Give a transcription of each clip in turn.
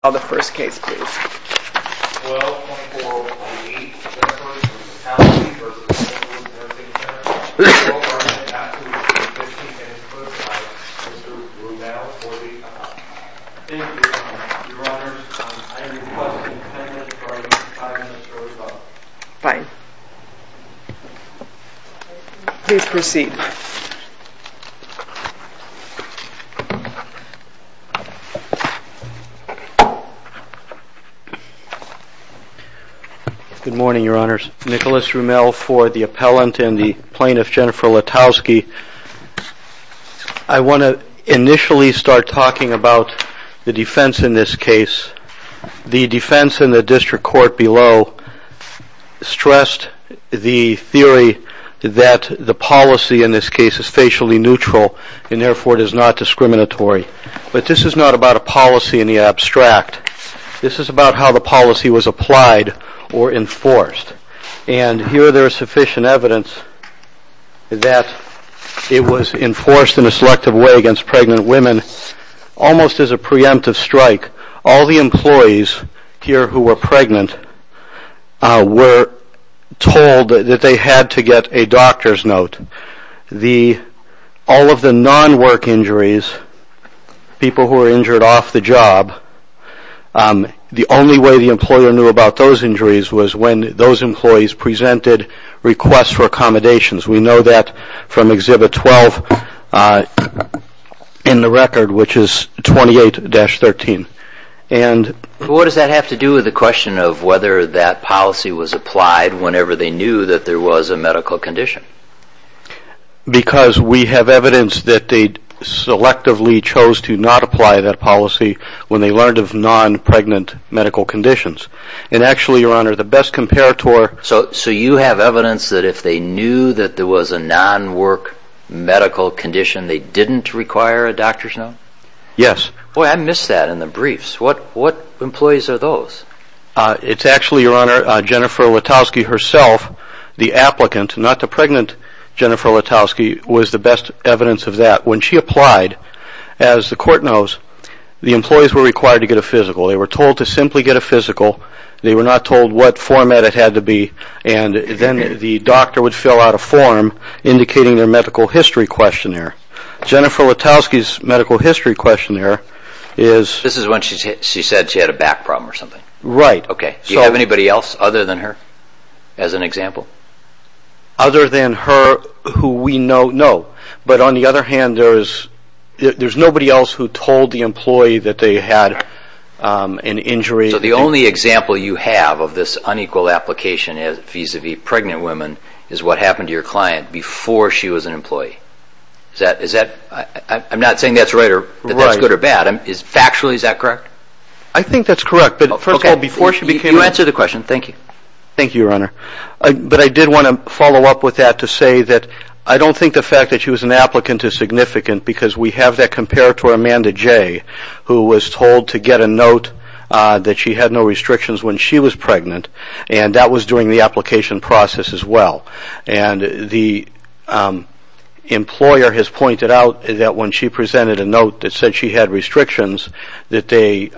Please call the first case, please. 12.418, Northwoods Nursing Center Mr. Blumel, for the... Thank you, Your Honor. Your Honor, I am requesting an amendment for the five-minute short vote. Fine. Please proceed. Good morning, Your Honors. Nicholas Rumel for the appellant and the plaintiff, Jennifer Latowski. I want to initially start talking about the defense in this case. The defense in the district court below stressed the theory that the policy in this case is facially neutral and therefore it is not discriminatory. But this is not about a policy in the abstract. This is about how the policy was applied or enforced. And here there is sufficient evidence that it was enforced in a selective way against pregnant women almost as a preemptive strike. All the employees here who were pregnant were told that they had to get a doctor's note. All of the non-work injuries, people who were injured off the job, the only way the employer knew about those injuries was when those employees presented requests for accommodations. We know that from Exhibit 12 in the record, which is 28-13. What does that have to do with the question of whether that policy was applied whenever they knew that there was a medical condition? Because we have evidence that they selectively chose to not apply that policy when they learned of non-pregnant medical conditions. And actually, Your Honor, the best comparator... So you have evidence that if they knew that there was a non-work medical condition, they didn't require a doctor's note? Yes. Boy, I missed that in the briefs. What employees are those? It's actually, Your Honor, Jennifer Letowski herself, the applicant, not the pregnant Jennifer Letowski, was the best evidence of that. When she applied, as the Court knows, the employees were required to get a physical. They were told to simply get a physical. They were not told what format it had to be. And then the doctor would fill out a form indicating their medical history questionnaire. Jennifer Letowski's medical history questionnaire is... This is when she said she had a back problem or something? Right. Okay. Do you have anybody else other than her as an example? Other than her who we know, no. But on the other hand, there's nobody else who told the employee that they had an injury... So the only example you have of this unequal application vis-à-vis pregnant women is what happened to your client before she was an employee? I'm not saying that's right or that's good or bad. Factually, is that correct? I think that's correct. But first of all, before she became... Okay. You answered the question. Thank you. Thank you, Your Honor. But I did want to follow up with that to say that I don't think the fact that she was an applicant is significant because we have that comparator, Amanda Jay, who was told to get a note that she had no restrictions when she was pregnant. And that was during the application process as well. And the employer has pointed out that when she presented a note that said she had restrictions, that they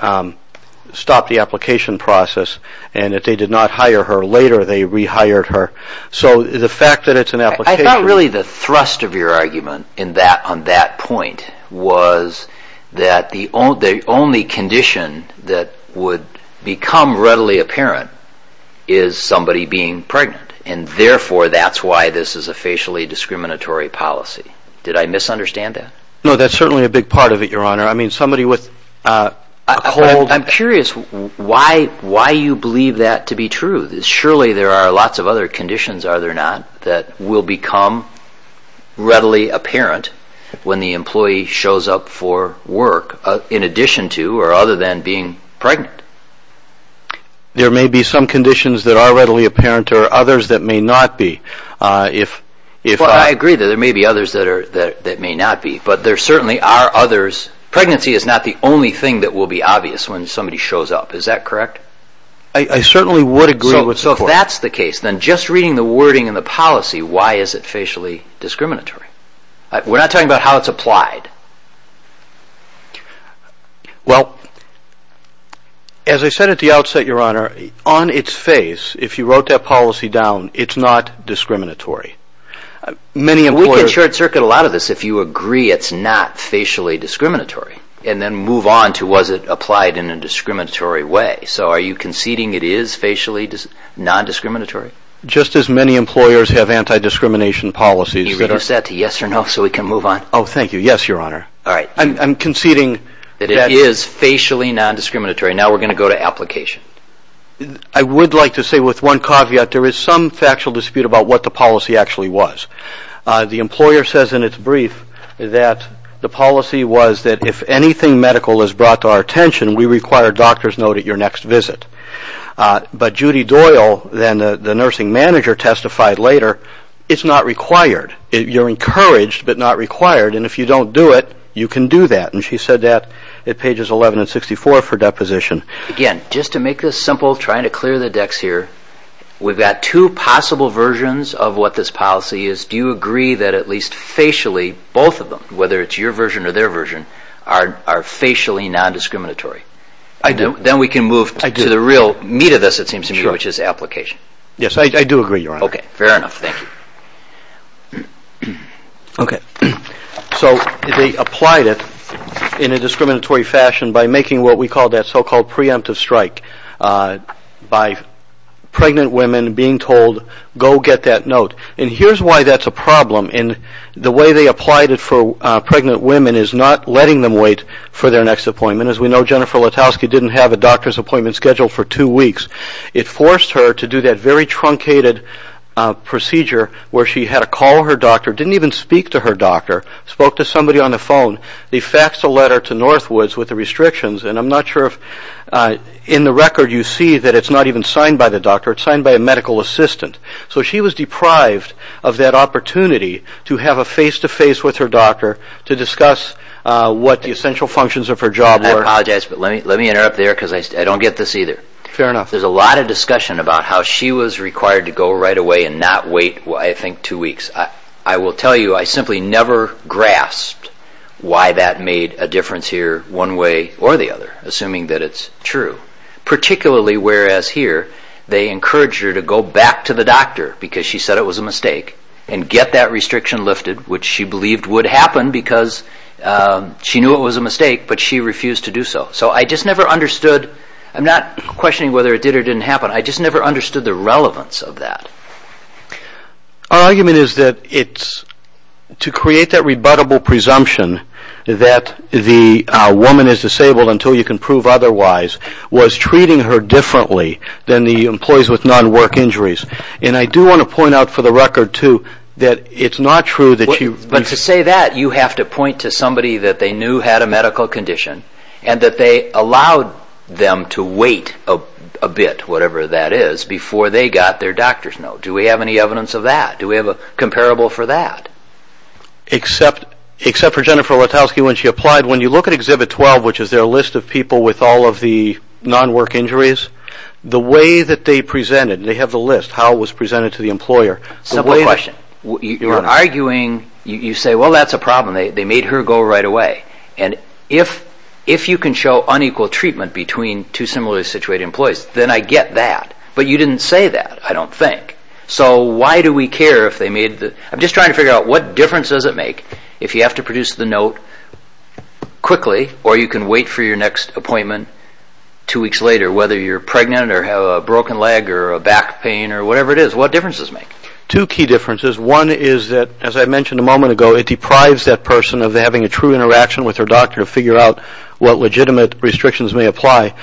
stopped the application process and that they did not hire her later. They rehired her. So the fact that it's an application... I thought really the thrust of your argument on that point was that the only condition that would become readily apparent is somebody being pregnant. And therefore, that's why this is a facially discriminatory policy. Did I misunderstand that? No, that's certainly a big part of it, Your Honor. I mean, somebody with a cold... I'm curious why you believe that to be true. Surely there are lots of other conditions, are there not, that will become readily apparent when the employee shows up for work in addition to or other than being pregnant. There may be some conditions that are readily apparent or others that may not be. I agree that there may be others that may not be, but there certainly are others. Pregnancy is not the only thing that will be obvious when somebody shows up. Is that correct? I certainly would agree with the court. So if that's the case, then just reading the wording in the policy, why is it facially discriminatory? We're not talking about how it's applied. Well, as I said at the outset, Your Honor, on its face, if you wrote that policy down, it's not discriminatory. We can short-circuit a lot of this if you agree it's not facially discriminatory and then move on to was it applied in a discriminatory way. So are you conceding it is facially non-discriminatory? Just as many employers have anti-discrimination policies... Can you reduce that to yes or no so we can move on? Oh, thank you. Yes, Your Honor. I'm conceding... That it is facially non-discriminatory. Now we're going to go to application. I would like to say with one caveat, there is some factual dispute about what the policy actually was. The employer says in its brief that the policy was that if anything medical is brought to our attention, we require a doctor's note at your next visit. But Judy Doyle, the nursing manager, testified later, it's not required. You're encouraged, but not required. And if you don't do it, you can do that. And she said that at pages 11 and 64 for deposition. Again, just to make this simple, trying to clear the decks here, we've got two possible versions of what this policy is. Do you agree that at least facially, both of them, whether it's your version or their version, are facially non-discriminatory? I do. Then we can move to the real meat of this, it seems to me, which is application. Yes, I do agree, Your Honor. Okay, fair enough. Thank you. So they applied it in a discriminatory fashion by making what we call that so-called preemptive strike by pregnant women being told, go get that note. And here's why that's a problem. The way they applied it for pregnant women is not letting them wait for their next appointment. As we know, Jennifer Letowski didn't have a doctor's appointment scheduled for two weeks. It forced her to do that very truncated procedure where she had to call her doctor, didn't even speak to her doctor, spoke to somebody on the phone. They faxed a letter to Northwoods with the restrictions, and I'm not sure if in the record you see that it's not even signed by the doctor, it's signed by a medical assistant. So she was deprived of that opportunity to have a face-to-face with her doctor to discuss what the essential functions of her job were. I apologize, but let me interrupt there because I don't get this either. Fair enough. There's a lot of discussion about how she was required to go right away and not wait, I think, two weeks. I will tell you I simply never grasped why that made a difference here one way or the other, assuming that it's true, particularly whereas here they encouraged her to go back to the doctor because she said it was a mistake and get that restriction lifted, which she believed would happen because she knew it was a mistake, but she refused to do so. So I just never understood, I'm not questioning whether it did or didn't happen, I just never understood the relevance of that. Our argument is that to create that rebuttable presumption that the woman is disabled until you can prove otherwise was treating her differently than the employees with non-work injuries. And I do want to point out for the record, too, that it's not true that she... But to say that, you have to point to somebody that they knew had a medical condition and that they allowed them to wait a bit, whatever that is, before they got their doctor's note. Do we have any evidence of that? Do we have a comparable for that? Except for Jennifer Rotowsky when she applied, when you look at Exhibit 12, which is their list of people with all of the non-work injuries, the way that they presented, they have the list, how it was presented to the employer... Simple question. You're arguing, you say, well, that's a problem, they made her go right away. And if you can show unequal treatment between two similarly situated employees, then I get that. But you didn't say that, I don't think. So why do we care if they made the... I'm just trying to figure out what difference does it make if you have to produce the note quickly or you can wait for your next appointment two weeks later, whether you're pregnant or have a broken leg or a back pain or whatever it is. What difference does it make? Two key differences. One is that, as I mentioned a moment ago, it deprives that person of having a true interaction with their doctor to figure out what legitimate restrictions may apply.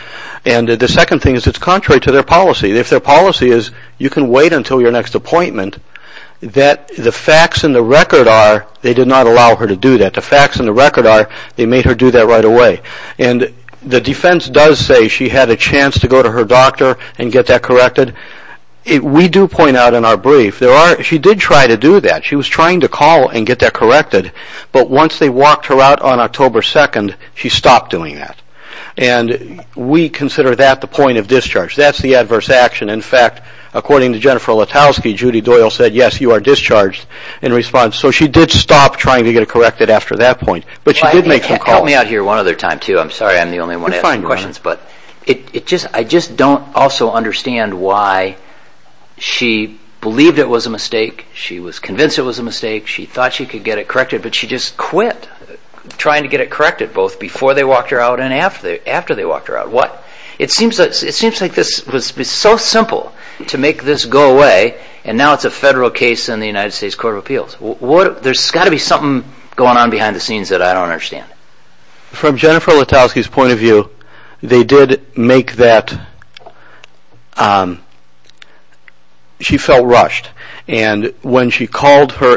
And the second thing is it's contrary to their policy. If their policy is you can wait until your next appointment, the facts and the record are they did not allow her to do that. The facts and the record are they made her do that right away. And the defense does say she had a chance to go to her doctor and get that corrected. We do point out in our brief, she did try to do that. She was trying to call and get that corrected. But once they walked her out on October 2nd, she stopped doing that. And we consider that the point of discharge. That's the adverse action. In fact, according to Jennifer Letowski, Judy Doyle said, yes, you are discharged in response. So she did stop trying to get it corrected after that point. But she did make some calls. Help me out here one other time too. I'm sorry I'm the only one asking questions. But I just don't also understand why she believed it was a mistake. She was convinced it was a mistake. She thought she could get it corrected. But she just quit trying to get it corrected both before they walked her out and after they walked her out. What? It seems like this was so simple to make this go away, and now it's a federal case in the United States Court of Appeals. There's got to be something going on behind the scenes that I don't understand. From Jennifer Letowski's point of view, they did make that. She felt rushed. And when she called her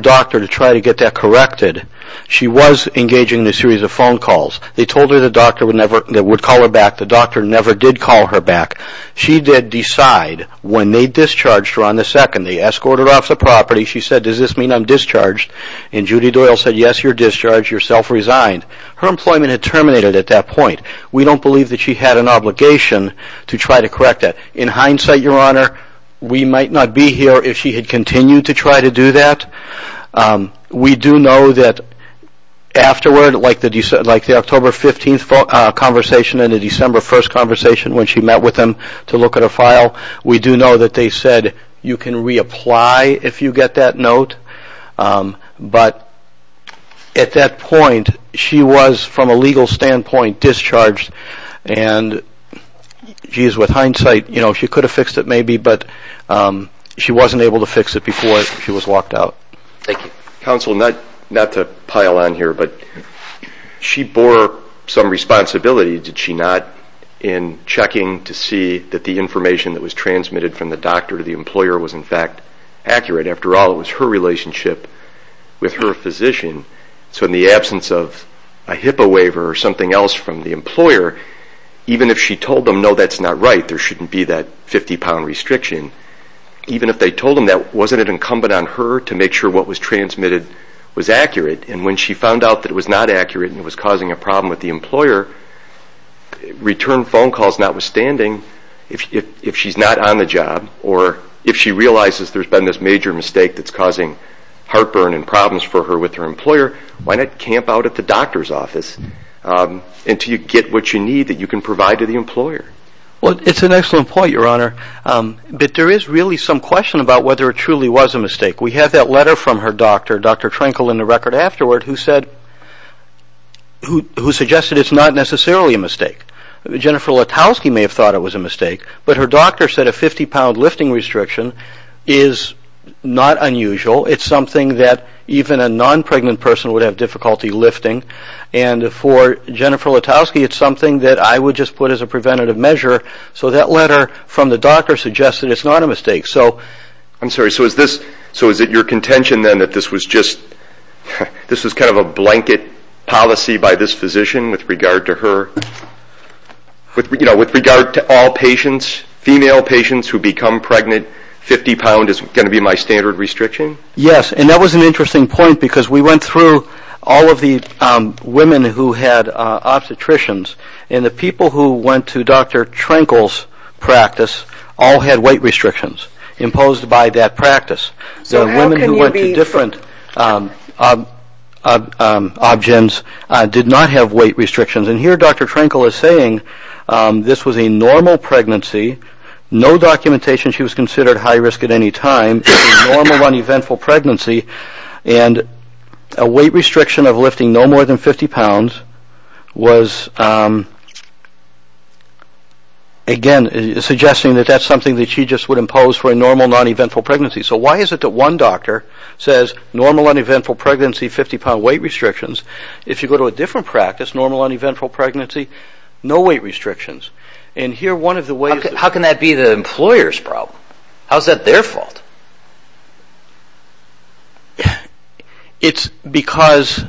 doctor to try to get that corrected, she was engaging in a series of phone calls. They told her the doctor would call her back. The doctor never did call her back. She did decide when they discharged her on the second. They escorted her off the property. She said, does this mean I'm discharged? And Judy Doyle said, yes, you're discharged. You're self-resigned. Her employment had terminated at that point. We don't believe that she had an obligation to try to correct that. In hindsight, Your Honor, we might not be here if she had continued to try to do that. We do know that afterward, like the October 15th conversation and the December 1st conversation when she met with them to look at a file, we do know that they said you can reapply if you get that note. But at that point, she was, from a legal standpoint, discharged. And she is, with hindsight, she could have fixed it maybe, but she wasn't able to fix it before she was walked out. Thank you. Counsel, not to pile on here, but she bore some responsibility, did she not, in checking to see that the information that was transmitted from the doctor to the employer was, in fact, accurate. After all, it was her relationship with her physician. So in the absence of a HIPAA waiver or something else from the employer, even if she told them, no, that's not right, there shouldn't be that 50-pound restriction, even if they told them that, wasn't it incumbent on her to make sure what was transmitted was accurate? And when she found out that it was not accurate and it was causing a problem with the employer, return phone calls notwithstanding, if she's not on the job or if she realizes there's been this major mistake that's causing heartburn and problems for her with her employer, why not camp out at the doctor's office until you get what you need that you can provide to the employer? Well, it's an excellent point, Your Honor. But there is really some question about whether it truly was a mistake. We have that letter from her doctor, Dr. Trenkle, in the record afterward, who suggested it's not necessarily a mistake. Jennifer Letowski may have thought it was a mistake, but her doctor said a 50-pound lifting restriction is not unusual. It's something that even a non-pregnant person would have difficulty lifting. And for Jennifer Letowski, it's something that I would just put as a preventative measure. So that letter from the doctor suggested it's not a mistake. I'm sorry, so is it your contention then that this was kind of a blanket policy by this physician with regard to all patients, female patients who become pregnant, 50 pound is going to be my standard restriction? Yes, and that was an interesting point because we went through all of the women who had obstetricians, and the people who went to Dr. Trenkle's practice all had weight restrictions imposed by that practice. The women who went to different OBGYNs did not have weight restrictions. And here Dr. Trenkle is saying this was a normal pregnancy, no documentation she was considered high-risk at any time, normal, uneventful pregnancy, and a weight restriction of lifting no more than 50 pounds was, again, suggesting that that's something that she just would impose for a normal, non-eventful pregnancy. So why is it that one doctor says normal, uneventful pregnancy, 50-pound weight restrictions? If you go to a different practice, normal, uneventful pregnancy, no weight restrictions. How can that be the employer's problem? How is that their fault? It's because...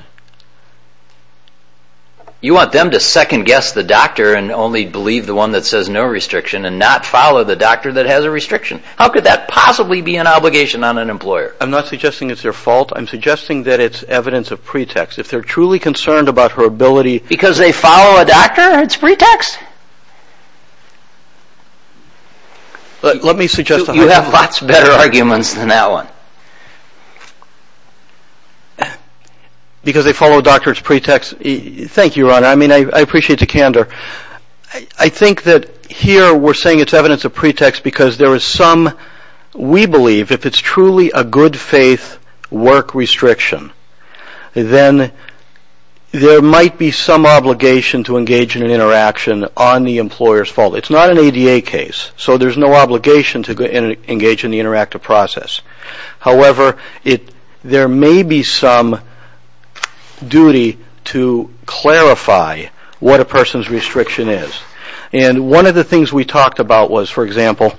You want them to second-guess the doctor and only believe the one that says no restriction and not follow the doctor that has a restriction. How could that possibly be an obligation on an employer? I'm not suggesting it's their fault. I'm suggesting that it's evidence of pretext. If they're truly concerned about her ability... Let me suggest... You have lots better arguments than that one. Because they follow a doctor's pretext. Thank you, Your Honor. I mean, I appreciate the candor. I think that here we're saying it's evidence of pretext because there is some... We believe if it's truly a good-faith work restriction, then there might be some obligation to engage in an interaction on the employer's fault. It's not an ADA case, so there's no obligation to engage in the interactive process. However, there may be some duty to clarify what a person's restriction is. And one of the things we talked about was, for example,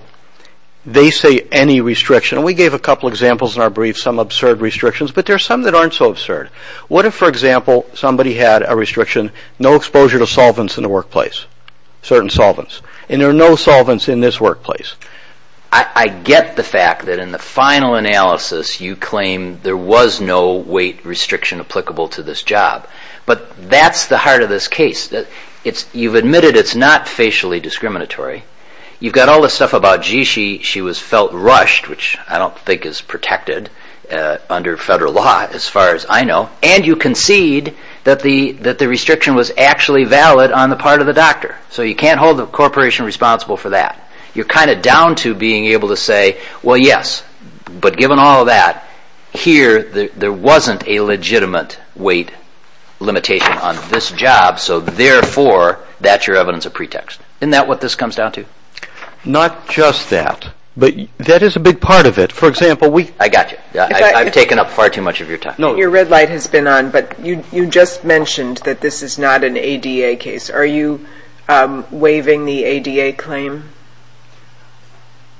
they say any restriction. And we gave a couple examples in our brief, some absurd restrictions, but there are some that aren't so absurd. What if, for example, somebody had a restriction, no exposure to solvents in the workplace, certain solvents. And there are no solvents in this workplace. I get the fact that in the final analysis, you claim there was no weight restriction applicable to this job. But that's the heart of this case. You've admitted it's not facially discriminatory. You've got all this stuff about, gee, she was felt rushed, which I don't think is protected under federal law as far as I know. And you concede that the restriction was actually valid on the part of the doctor. So you can't hold the corporation responsible for that. You're kind of down to being able to say, well, yes, but given all that, here there wasn't a legitimate weight limitation on this job, so therefore that's your evidence of pretext. Isn't that what this comes down to? Not just that. But that is a big part of it. For example, we – I got you. I've taken up far too much of your time. Your red light has been on, but you just mentioned that this is not an ADA case. Are you waiving the ADA claim?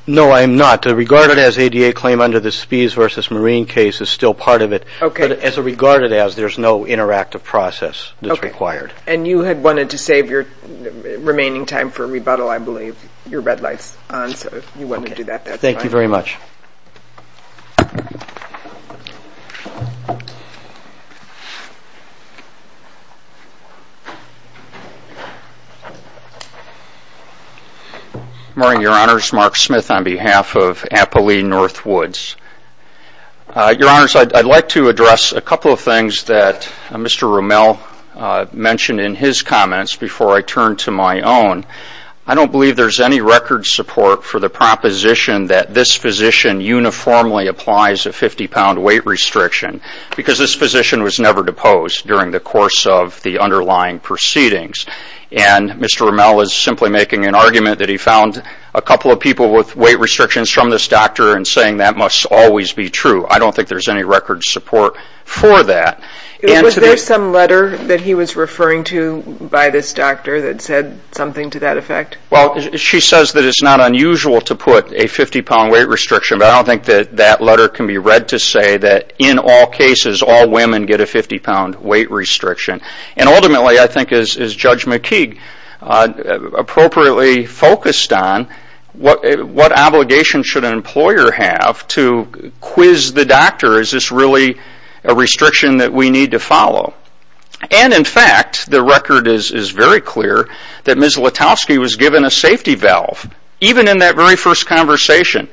No, I am not. Regarded as ADA claim under the Spies v. Marine case is still part of it. But as a regarded as, there's no interactive process that's required. And you had wanted to save your remaining time for rebuttal, I believe. Your red light's on, so you wanted to do that that time. Thank you very much. Good morning, Your Honors. Mark Smith on behalf of Appali Northwoods. Your Honors, I'd like to address a couple of things that Mr. Rommel mentioned in his comments before I turn to my own. I don't believe there's any record support for the proposition that this physician uniformly applies a 50-pound weight restriction, because this physician was never deposed during the course of the underlying proceedings. And Mr. Rommel is simply making an argument that he found a couple of people with weight restrictions from this doctor and saying that must always be true. I don't think there's any record support for that. Was there some letter that he was referring to by this doctor that said something to that effect? Well, she says that it's not unusual to put a 50-pound weight restriction, but I don't think that that letter can be read to say that in all cases, all women get a 50-pound weight restriction. And ultimately, I think, is Judge McKeague appropriately focused on what obligation should an employer have to quiz the doctor, is this really a restriction that we need to follow? And in fact, the record is very clear that Ms. Letovsky was given a safety valve, even in that very first conversation.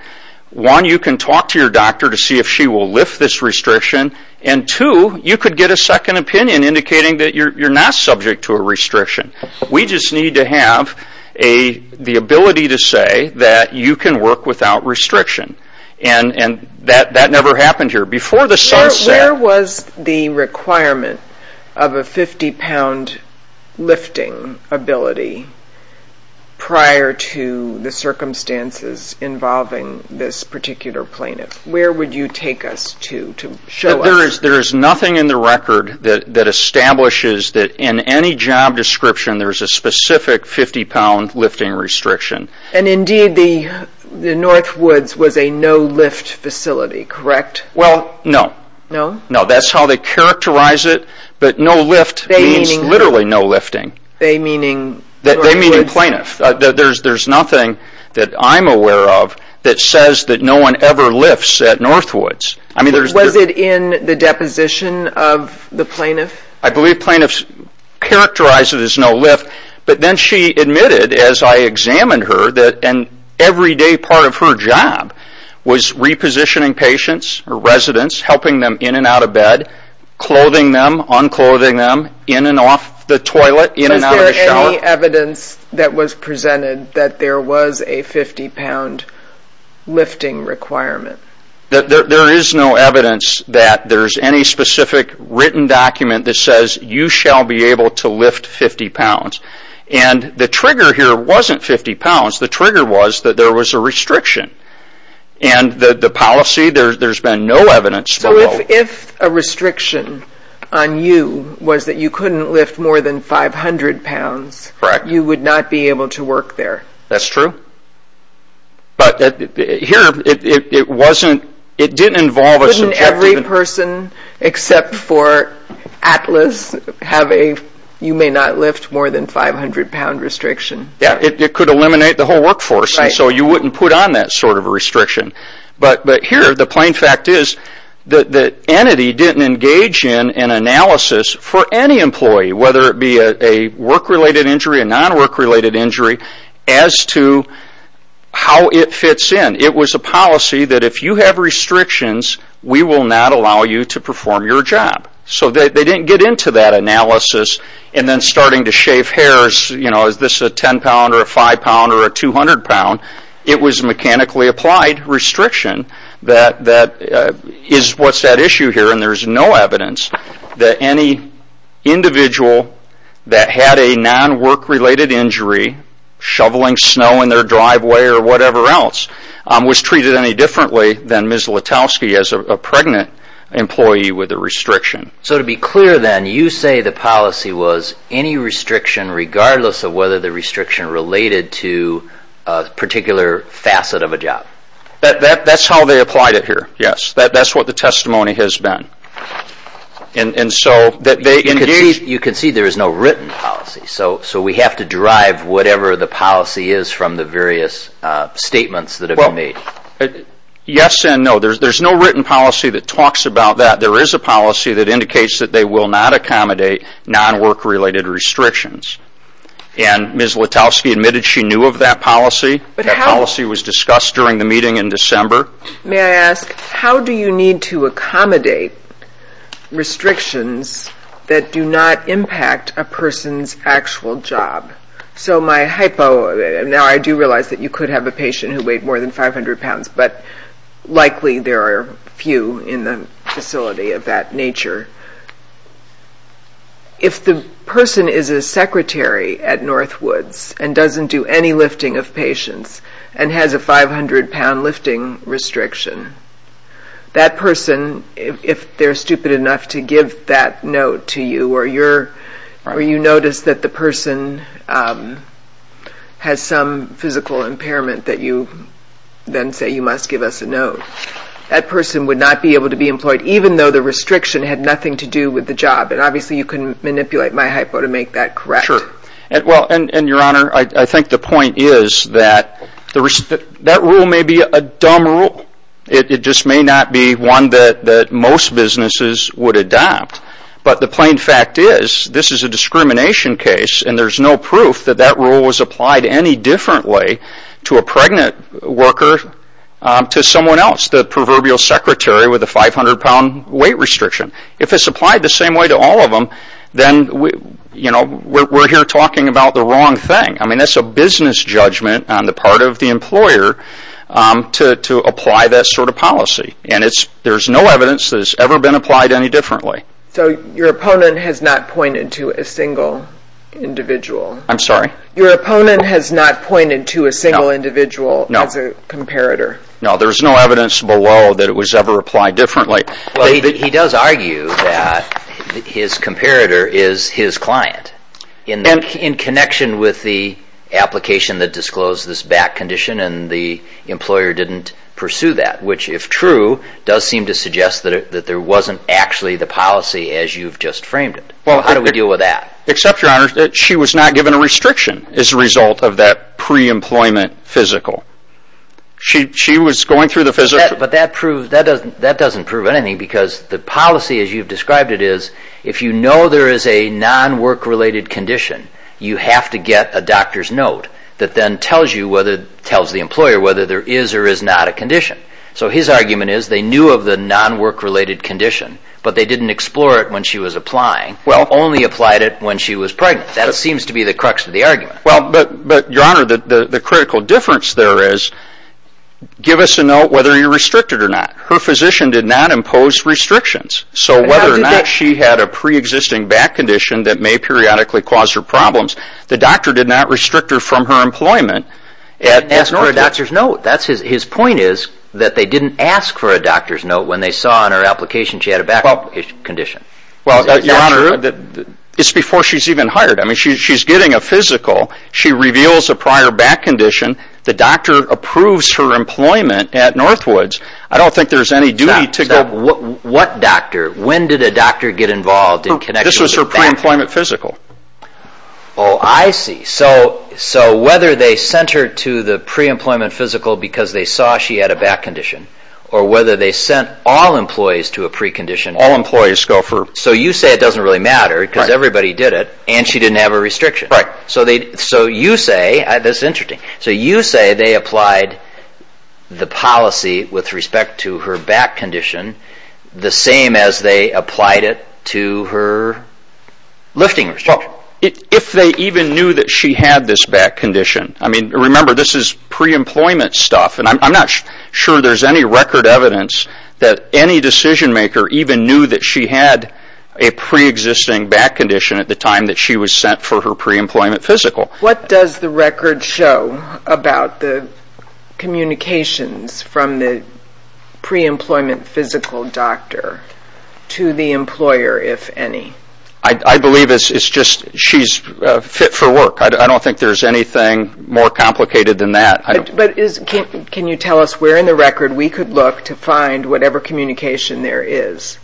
One, you can talk to your doctor to see if she will lift this restriction, and two, you could get a second opinion indicating that you're not subject to a restriction. We just need to have the ability to say that you can work without restriction. And that never happened here. Where was the requirement of a 50-pound lifting ability prior to the circumstances involving this particular plaintiff? Where would you take us to show us? There is nothing in the record that establishes that in any job description, there is a specific 50-pound lifting restriction. And indeed, the Northwoods was a no-lift facility, correct? Well, no. No? No, that's how they characterize it, but no lift means literally no lifting. They meaning Northwoods? They meaning plaintiff. There's nothing that I'm aware of that says that no one ever lifts at Northwoods. Was it in the deposition of the plaintiff? I believe plaintiffs characterize it as no lift, but then she admitted as I examined her that an everyday part of her job was repositioning patients or residents, helping them in and out of bed, clothing them, unclothing them, in and off the toilet, in and out of the shower. Is there any evidence that was presented that there was a 50-pound lifting requirement? There is no evidence that there's any specific written document that says you shall be able to lift 50 pounds. And the trigger here wasn't 50 pounds. The trigger was that there was a restriction. And the policy, there's been no evidence below. If a restriction on you was that you couldn't lift more than 500 pounds, you would not be able to work there. That's true. But here, it didn't involve a subjective... Couldn't every person except for Atlas have a you may not lift more than 500 pound restriction? Yeah, it could eliminate the whole workforce, and so you wouldn't put on that sort of a restriction. But here, the plain fact is, the entity didn't engage in an analysis for any employee, whether it be a work-related injury, a non-work-related injury, as to how it fits in. It was a policy that if you have restrictions, we will not allow you to perform your job. So they didn't get into that analysis, and then starting to shave hairs, you know, is this a 10-pound or a 5-pound or a 200-pound? It was mechanically applied restriction. That is what's at issue here, and there's no evidence that any individual that had a non-work-related injury, shoveling snow in their driveway or whatever else, was treated any differently than Ms. Letowski as a pregnant employee with a restriction. So to be clear then, you say the policy was any restriction, regardless of whether the restriction related to a particular facet of a job. That's how they applied it here, yes. That's what the testimony has been. You can see there is no written policy, so we have to derive whatever the policy is from the various statements that have been made. Yes and no. There's no written policy that talks about that. There is a policy that indicates that they will not accommodate non-work-related restrictions, and Ms. Letowski admitted she knew of that policy. That policy was discussed during the meeting in December. May I ask, how do you need to accommodate restrictions that do not impact a person's actual job? So my hypo, now I do realize that you could have a patient who weighed more than 500 pounds, but likely there are few in the facility of that nature. If the person is a secretary at Northwoods and doesn't do any lifting of patients and has a 500-pound lifting restriction, that person, if they're stupid enough to give that note to you or you notice that the person has some physical impairment that you then say you must give us a note, that person would not be able to be employed, even though the restriction had nothing to do with the job. And obviously you can manipulate my hypo to make that correct. Sure. And your Honor, I think the point is that that rule may be a dumb rule. It just may not be one that most businesses would adopt. But the plain fact is, this is a discrimination case and there's no proof that that rule was applied any differently to a pregnant worker to someone else. That's the proverbial secretary with a 500-pound weight restriction. If it's applied the same way to all of them, then we're here talking about the wrong thing. That's a business judgment on the part of the employer to apply that sort of policy. And there's no evidence that it's ever been applied any differently. So your opponent has not pointed to a single individual? I'm sorry? Your opponent has not pointed to a single individual as a comparator? No, there's no evidence below that it was ever applied differently. Well, he does argue that his comparator is his client in connection with the application that disclosed this back condition and the employer didn't pursue that. Which, if true, does seem to suggest that there wasn't actually the policy as you've just framed it. How do we deal with that? Except, your Honor, that she was not given a restriction as a result of that pre-employment physical. She was going through the physical... But that doesn't prove anything because the policy as you've described it is if you know there is a non-work-related condition, you have to get a doctor's note that then tells the employer whether there is or is not a condition. So his argument is they knew of the non-work-related condition, but they didn't explore it when she was applying, only applied it when she was pregnant. That seems to be the crux of the argument. Well, but, your Honor, the critical difference there is give us a note whether you're restricted or not. Her physician did not impose restrictions. So whether or not she had a pre-existing back condition that may periodically cause her problems, the doctor did not restrict her from her employment. Ask for a doctor's note. His point is that they didn't ask for a doctor's note when they saw on her application she had a back condition. Well, your Honor, it's before she's even hired. I mean, she's getting a physical. She reveals a prior back condition. The doctor approves her employment at Northwoods. I don't think there's any duty to go... What doctor? When did a doctor get involved in connection with a back condition? This was her pre-employment physical. Oh, I see. So whether they sent her to the pre-employment physical because they saw she had a back condition, or whether they sent all employees to a pre-condition... All employees go for... So you say it doesn't really matter because everybody did it and she didn't have a restriction. Right. So you say... This is interesting. So you say they applied the policy with respect to her back condition the same as they applied it to her lifting restriction. If they even knew that she had this back condition... I mean, remember, this is pre-employment stuff and I'm not sure there's any record evidence that any decision maker even knew that she had a pre-existing back condition at the time that she was sent for her pre-employment physical. What does the record show about the communications from the pre-employment physical doctor to the employer, if any? I believe it's just she's fit for work. I don't think there's anything more complicated than that. Can you tell us where in the record we could look to find whatever communication there is?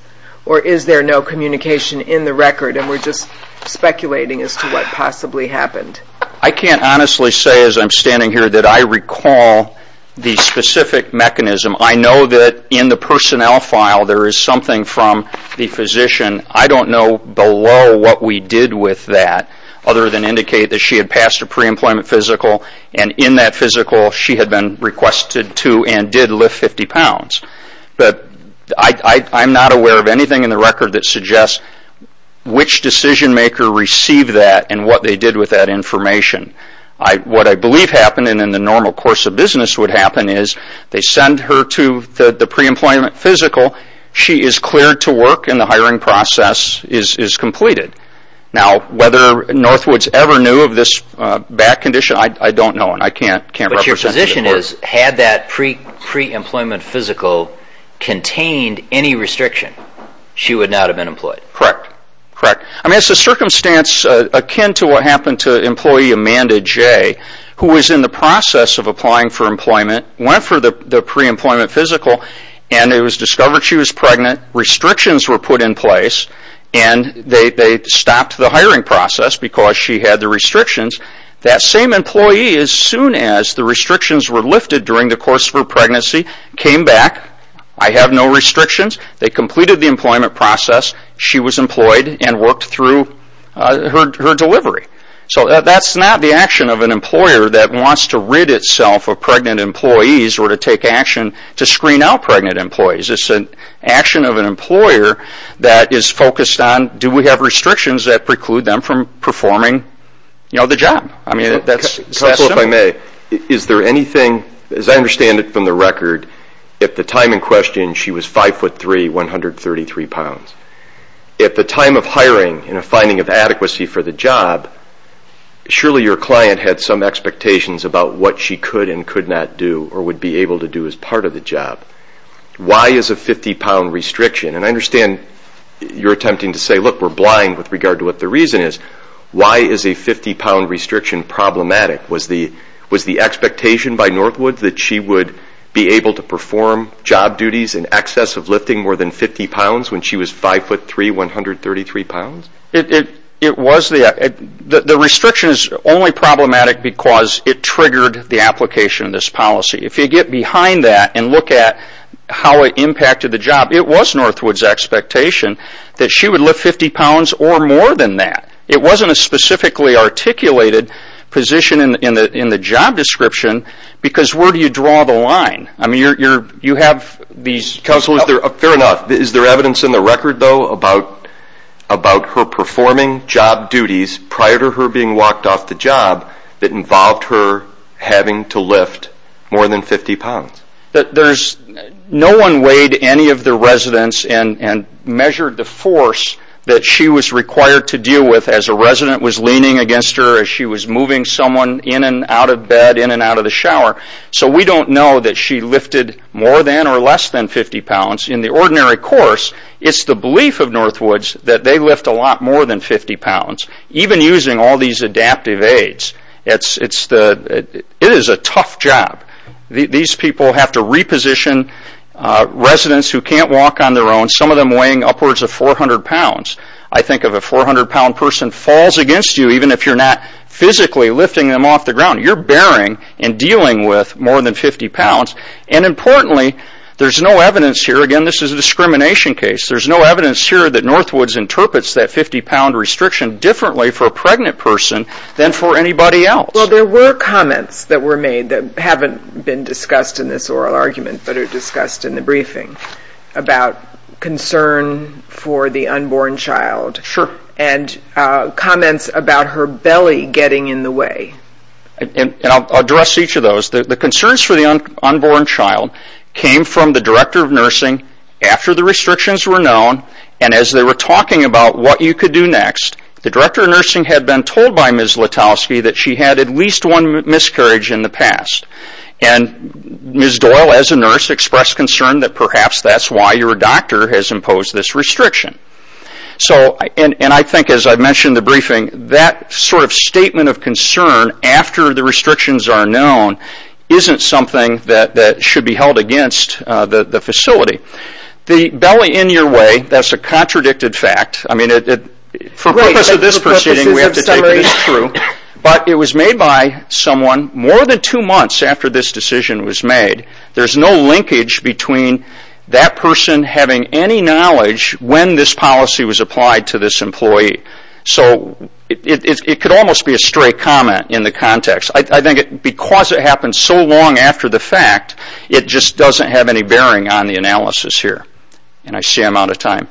Or is there no communication in the record and we're just speculating as to what possibly happened? I can't honestly say as I'm standing here that I recall the specific mechanism. I know that in the personnel file there is something from the physician. I don't know below what we did with that other than indicate that she had passed a pre-employment physical and in that physical she had been requested to and did lift 50 pounds. I'm not aware of anything in the record that suggests which decision maker received that and what they did with that information. What I believe happened and in the normal course of business would happen is they send her to the pre-employment physical, she is cleared to work and the hiring process is completed. Now whether Northwoods ever knew of this back condition, I don't know and I can't represent it. The question is, had that pre-employment physical contained any restriction, she would not have been employed. Correct. It's a circumstance akin to what happened to employee Amanda J who was in the process of applying for employment, went for the pre-employment physical and it was discovered she was pregnant. Restrictions were put in place and they stopped the hiring process because she had the restrictions. That same employee, as soon as the restrictions were lifted during the course of her pregnancy, came back. I have no restrictions. They completed the employment process. She was employed and worked through her delivery. So that's not the action of an employer that wants to rid itself of pregnant employees or to take action to screen out pregnant employees. It's an action of an employer that is focused on Do we have restrictions that preclude them from performing the job? If I may, is there anything, as I understand it from the record, at the time in question she was 5'3", 133 pounds. At the time of hiring and a finding of adequacy for the job, surely your client had some expectations about what she could and could not do or would be able to do as part of the job. Why is a 50-pound restriction? I understand you're attempting to say we're blind with regard to what the reason is. Why is a 50-pound restriction problematic? Was the expectation by Northwood that she would be able to perform job duties in excess of lifting more than 50 pounds when she was 5'3", 133 pounds? The restriction is only problematic because it triggered the application of this policy. If you get behind that and look at how it impacted the job, it was Northwood's expectation that she would lift 50 pounds or more than that. It wasn't a specifically articulated position in the job description because where do you draw the line? Fair enough. Is there evidence in the record, though, about her performing job duties prior to her being walked off the job that involved her having to lift more than 50 pounds? No one weighed any of the residents and measured the force that she was required to deal with as a resident was leaning against her, as she was moving someone in and out of bed, in and out of the shower. So we don't know that she lifted more than or less than 50 pounds. In the ordinary course, it's the belief of Northwoods that they lift a lot more than 50 pounds, even using all these adaptive aids. It is a tough job. These people have to reposition residents who can't walk on their own, some of them weighing upwards of 400 pounds. I think if a 400-pound person falls against you, even if you're not physically lifting them off the ground, you're bearing and dealing with more than 50 pounds. And importantly, there's no evidence here. Again, this is a discrimination case. There's no evidence here that Northwoods interprets that 50-pound restriction differently for a pregnant person than for anybody else. Well, there were comments that were made that haven't been discussed in this oral argument, but are discussed in the briefing about concern for the unborn child. Sure. And comments about her belly getting in the way. And I'll address each of those. The concerns for the unborn child came from the director of nursing after the restrictions were known, and as they were talking about what you could do next, the director of nursing had been told by Ms. Letowski that she had at least one miscarriage in the past. And Ms. Doyle, as a nurse, expressed concern that perhaps that's why your doctor has imposed this restriction. And I think, as I mentioned in the briefing, that sort of statement of concern after the restrictions are known isn't something that should be held against the facility. The belly in your way, that's a contradicted fact. For the purpose of this proceeding, we have to take it as true. But it was made by someone more than two months after this decision was made. There's no linkage between that person having any knowledge when this policy was applied to this employee. So it could almost be a straight comment in the context. I think because it happened so long after the fact, it just doesn't have any bearing on the analysis here. And I see I'm out of time.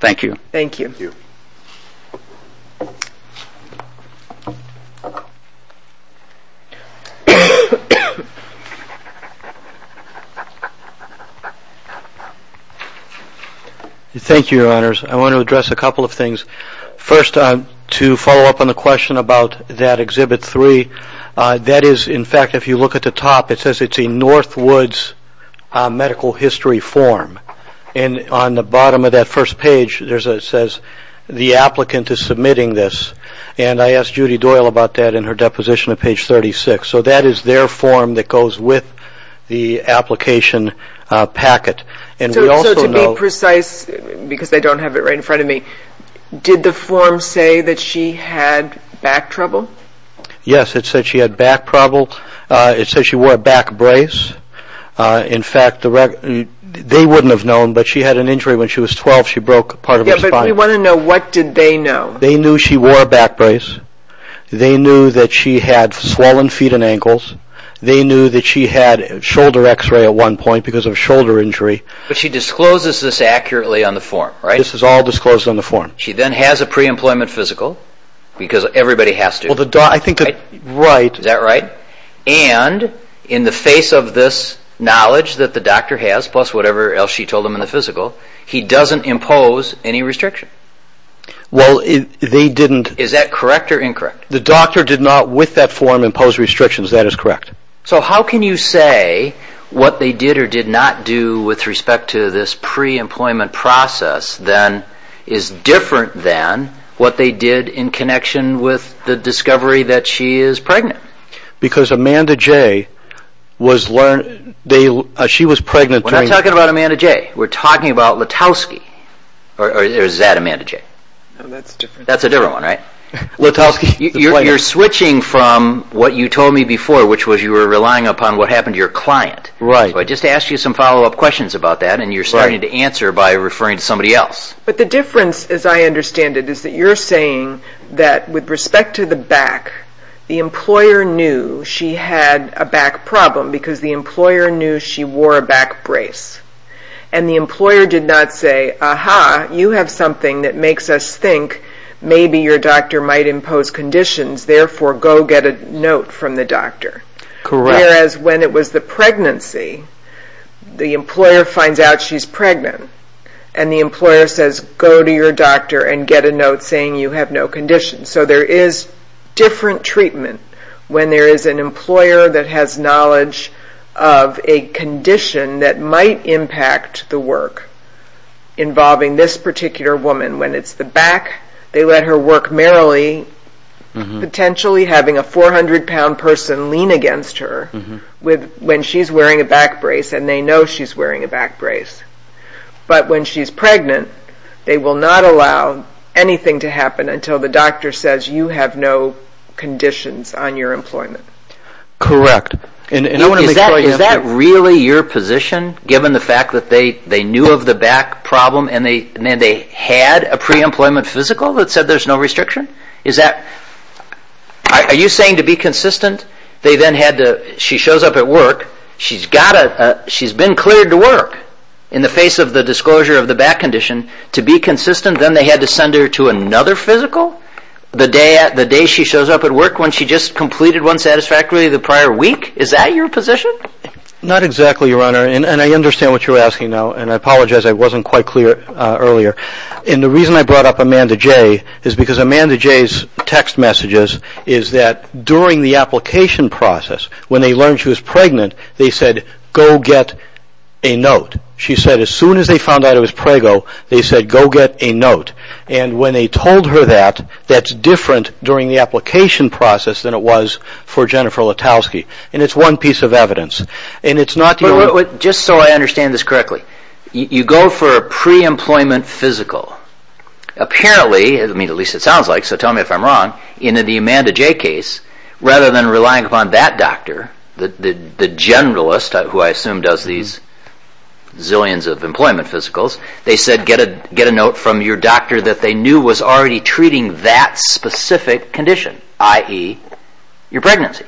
Thank you. Thank you. Thank you, Your Honors. I want to address a couple of things. First, to follow up on the question about that Exhibit 3, that is, in fact, if you look at the top, it says it's a Northwoods medical history form. And on the bottom of that first page, it says the applicant is submitting this. And I asked Judy Doyle about that in her deposition at page 36. So that is their form that goes with the application packet. So to be precise, because they don't have it right in front of me, did the form say that she had back trouble? Yes, it said she had back trouble. It said she wore a back brace. In fact, they wouldn't have known, but she had an injury when she was 12. She broke part of her spine. Yeah, but we want to know, what did they know? They knew she wore a back brace. They knew that she had swollen feet and ankles. They knew that she had shoulder x-ray at one point because of shoulder injury. But she discloses this accurately on the form, right? This is all disclosed on the form. She then has a pre-employment physical because everybody has to. Well, I think that's right. Is that right? That's right. And in the face of this knowledge that the doctor has, plus whatever else she told them in the physical, he doesn't impose any restriction. Well, they didn't. Is that correct or incorrect? The doctor did not, with that form, impose restrictions. That is correct. So how can you say what they did or did not do with respect to this pre-employment process is different than what they did in connection with the discovery that she is pregnant? Because Amanda J was pregnant during... We're not talking about Amanda J. We're talking about Lutowski. Or is that Amanda J? That's different. That's a different one, right? Lutowski. You're switching from what you told me before, which was you were relying upon what happened to your client. Right. So I just asked you some follow-up questions about that, and you're starting to answer by referring to somebody else. But the difference, as I understand it, is that you're saying that with respect to the back, the employer knew she had a back problem because the employer knew she wore a back brace. And the employer did not say, Aha, you have something that makes us think maybe your doctor might impose conditions, therefore go get a note from the doctor. Correct. Whereas when it was the pregnancy, the employer finds out she's pregnant, and the employer says go to your doctor and get a note saying you have no conditions. So there is different treatment when there is an employer that has knowledge of a condition that might impact the work involving this particular woman. When it's the back, they let her work merrily, potentially having a 400-pound person lean against her when she's wearing a back brace, and they know she's wearing a back brace. But when she's pregnant, they will not allow anything to happen until the doctor says you have no conditions on your employment. Correct. Is that really your position, given the fact that they knew of the back problem and they had a pre-employment physical that said there's no restriction? Are you saying to be consistent, she shows up at work, she's been cleared to work in the face of the disclosure of the back condition, to be consistent then they had to send her to another physical the day she shows up at work when she just completed one satisfactorily the prior week? Is that your position? Not exactly, Your Honor, and I understand what you're asking now, and I apologize I wasn't quite clear earlier. And the reason I brought up Amanda Jay is because Amanda Jay's text messages is that during the application process, when they learned she was pregnant, they said go get a note. She said as soon as they found out it was prego, they said go get a note. And when they told her that, that's different during the application process than it was for Jennifer Letowski, and it's one piece of evidence. Just so I understand this correctly, you go for a pre-employment physical. Apparently, at least it sounds like, so tell me if I'm wrong, in the Amanda Jay case, rather than relying upon that doctor, the generalist who I assume does these zillions of employment physicals, they said get a note from your doctor that they knew was already treating that specific condition, i.e. your pregnancy.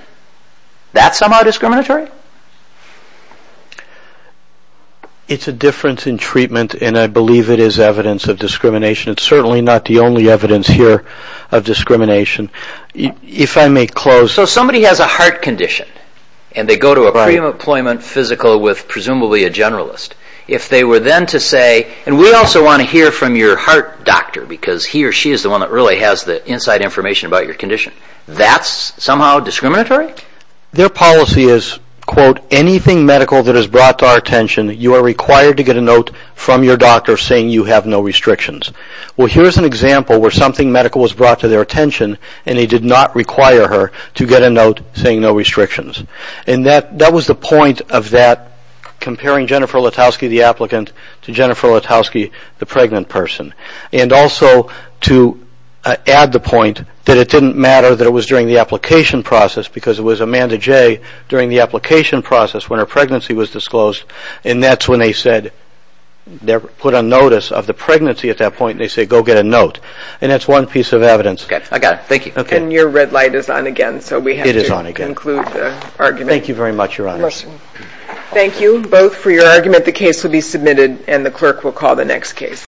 That's somehow discriminatory? It's a difference in treatment, and I believe it is evidence of discrimination. It's certainly not the only evidence here of discrimination. If I may close... So somebody has a heart condition, and they go to a pre-employment physical with presumably a generalist. If they were then to say, and we also want to hear from your heart doctor, because he or she is the one that really has the inside information about your condition, that's somehow discriminatory? Their policy is, quote, anything medical that is brought to our attention, you are required to get a note from your doctor saying you have no restrictions. Well, here's an example where something medical was brought to their attention, and they did not require her to get a note saying no restrictions. And that was the point of that comparing Jennifer Letowski, the applicant, to Jennifer Letowski, the pregnant person. And also to add the point that it didn't matter that it was during the application process because it was Amanda Jay during the application process when her pregnancy was disclosed, and that's when they said they put on notice of the pregnancy at that point and they said go get a note. And that's one piece of evidence. Okay, I got it. Thank you. And your red light is on again, so we have to conclude the argument. Thank you very much, Your Honor. Thank you both for your argument. The case will be submitted, and the clerk will call the next case.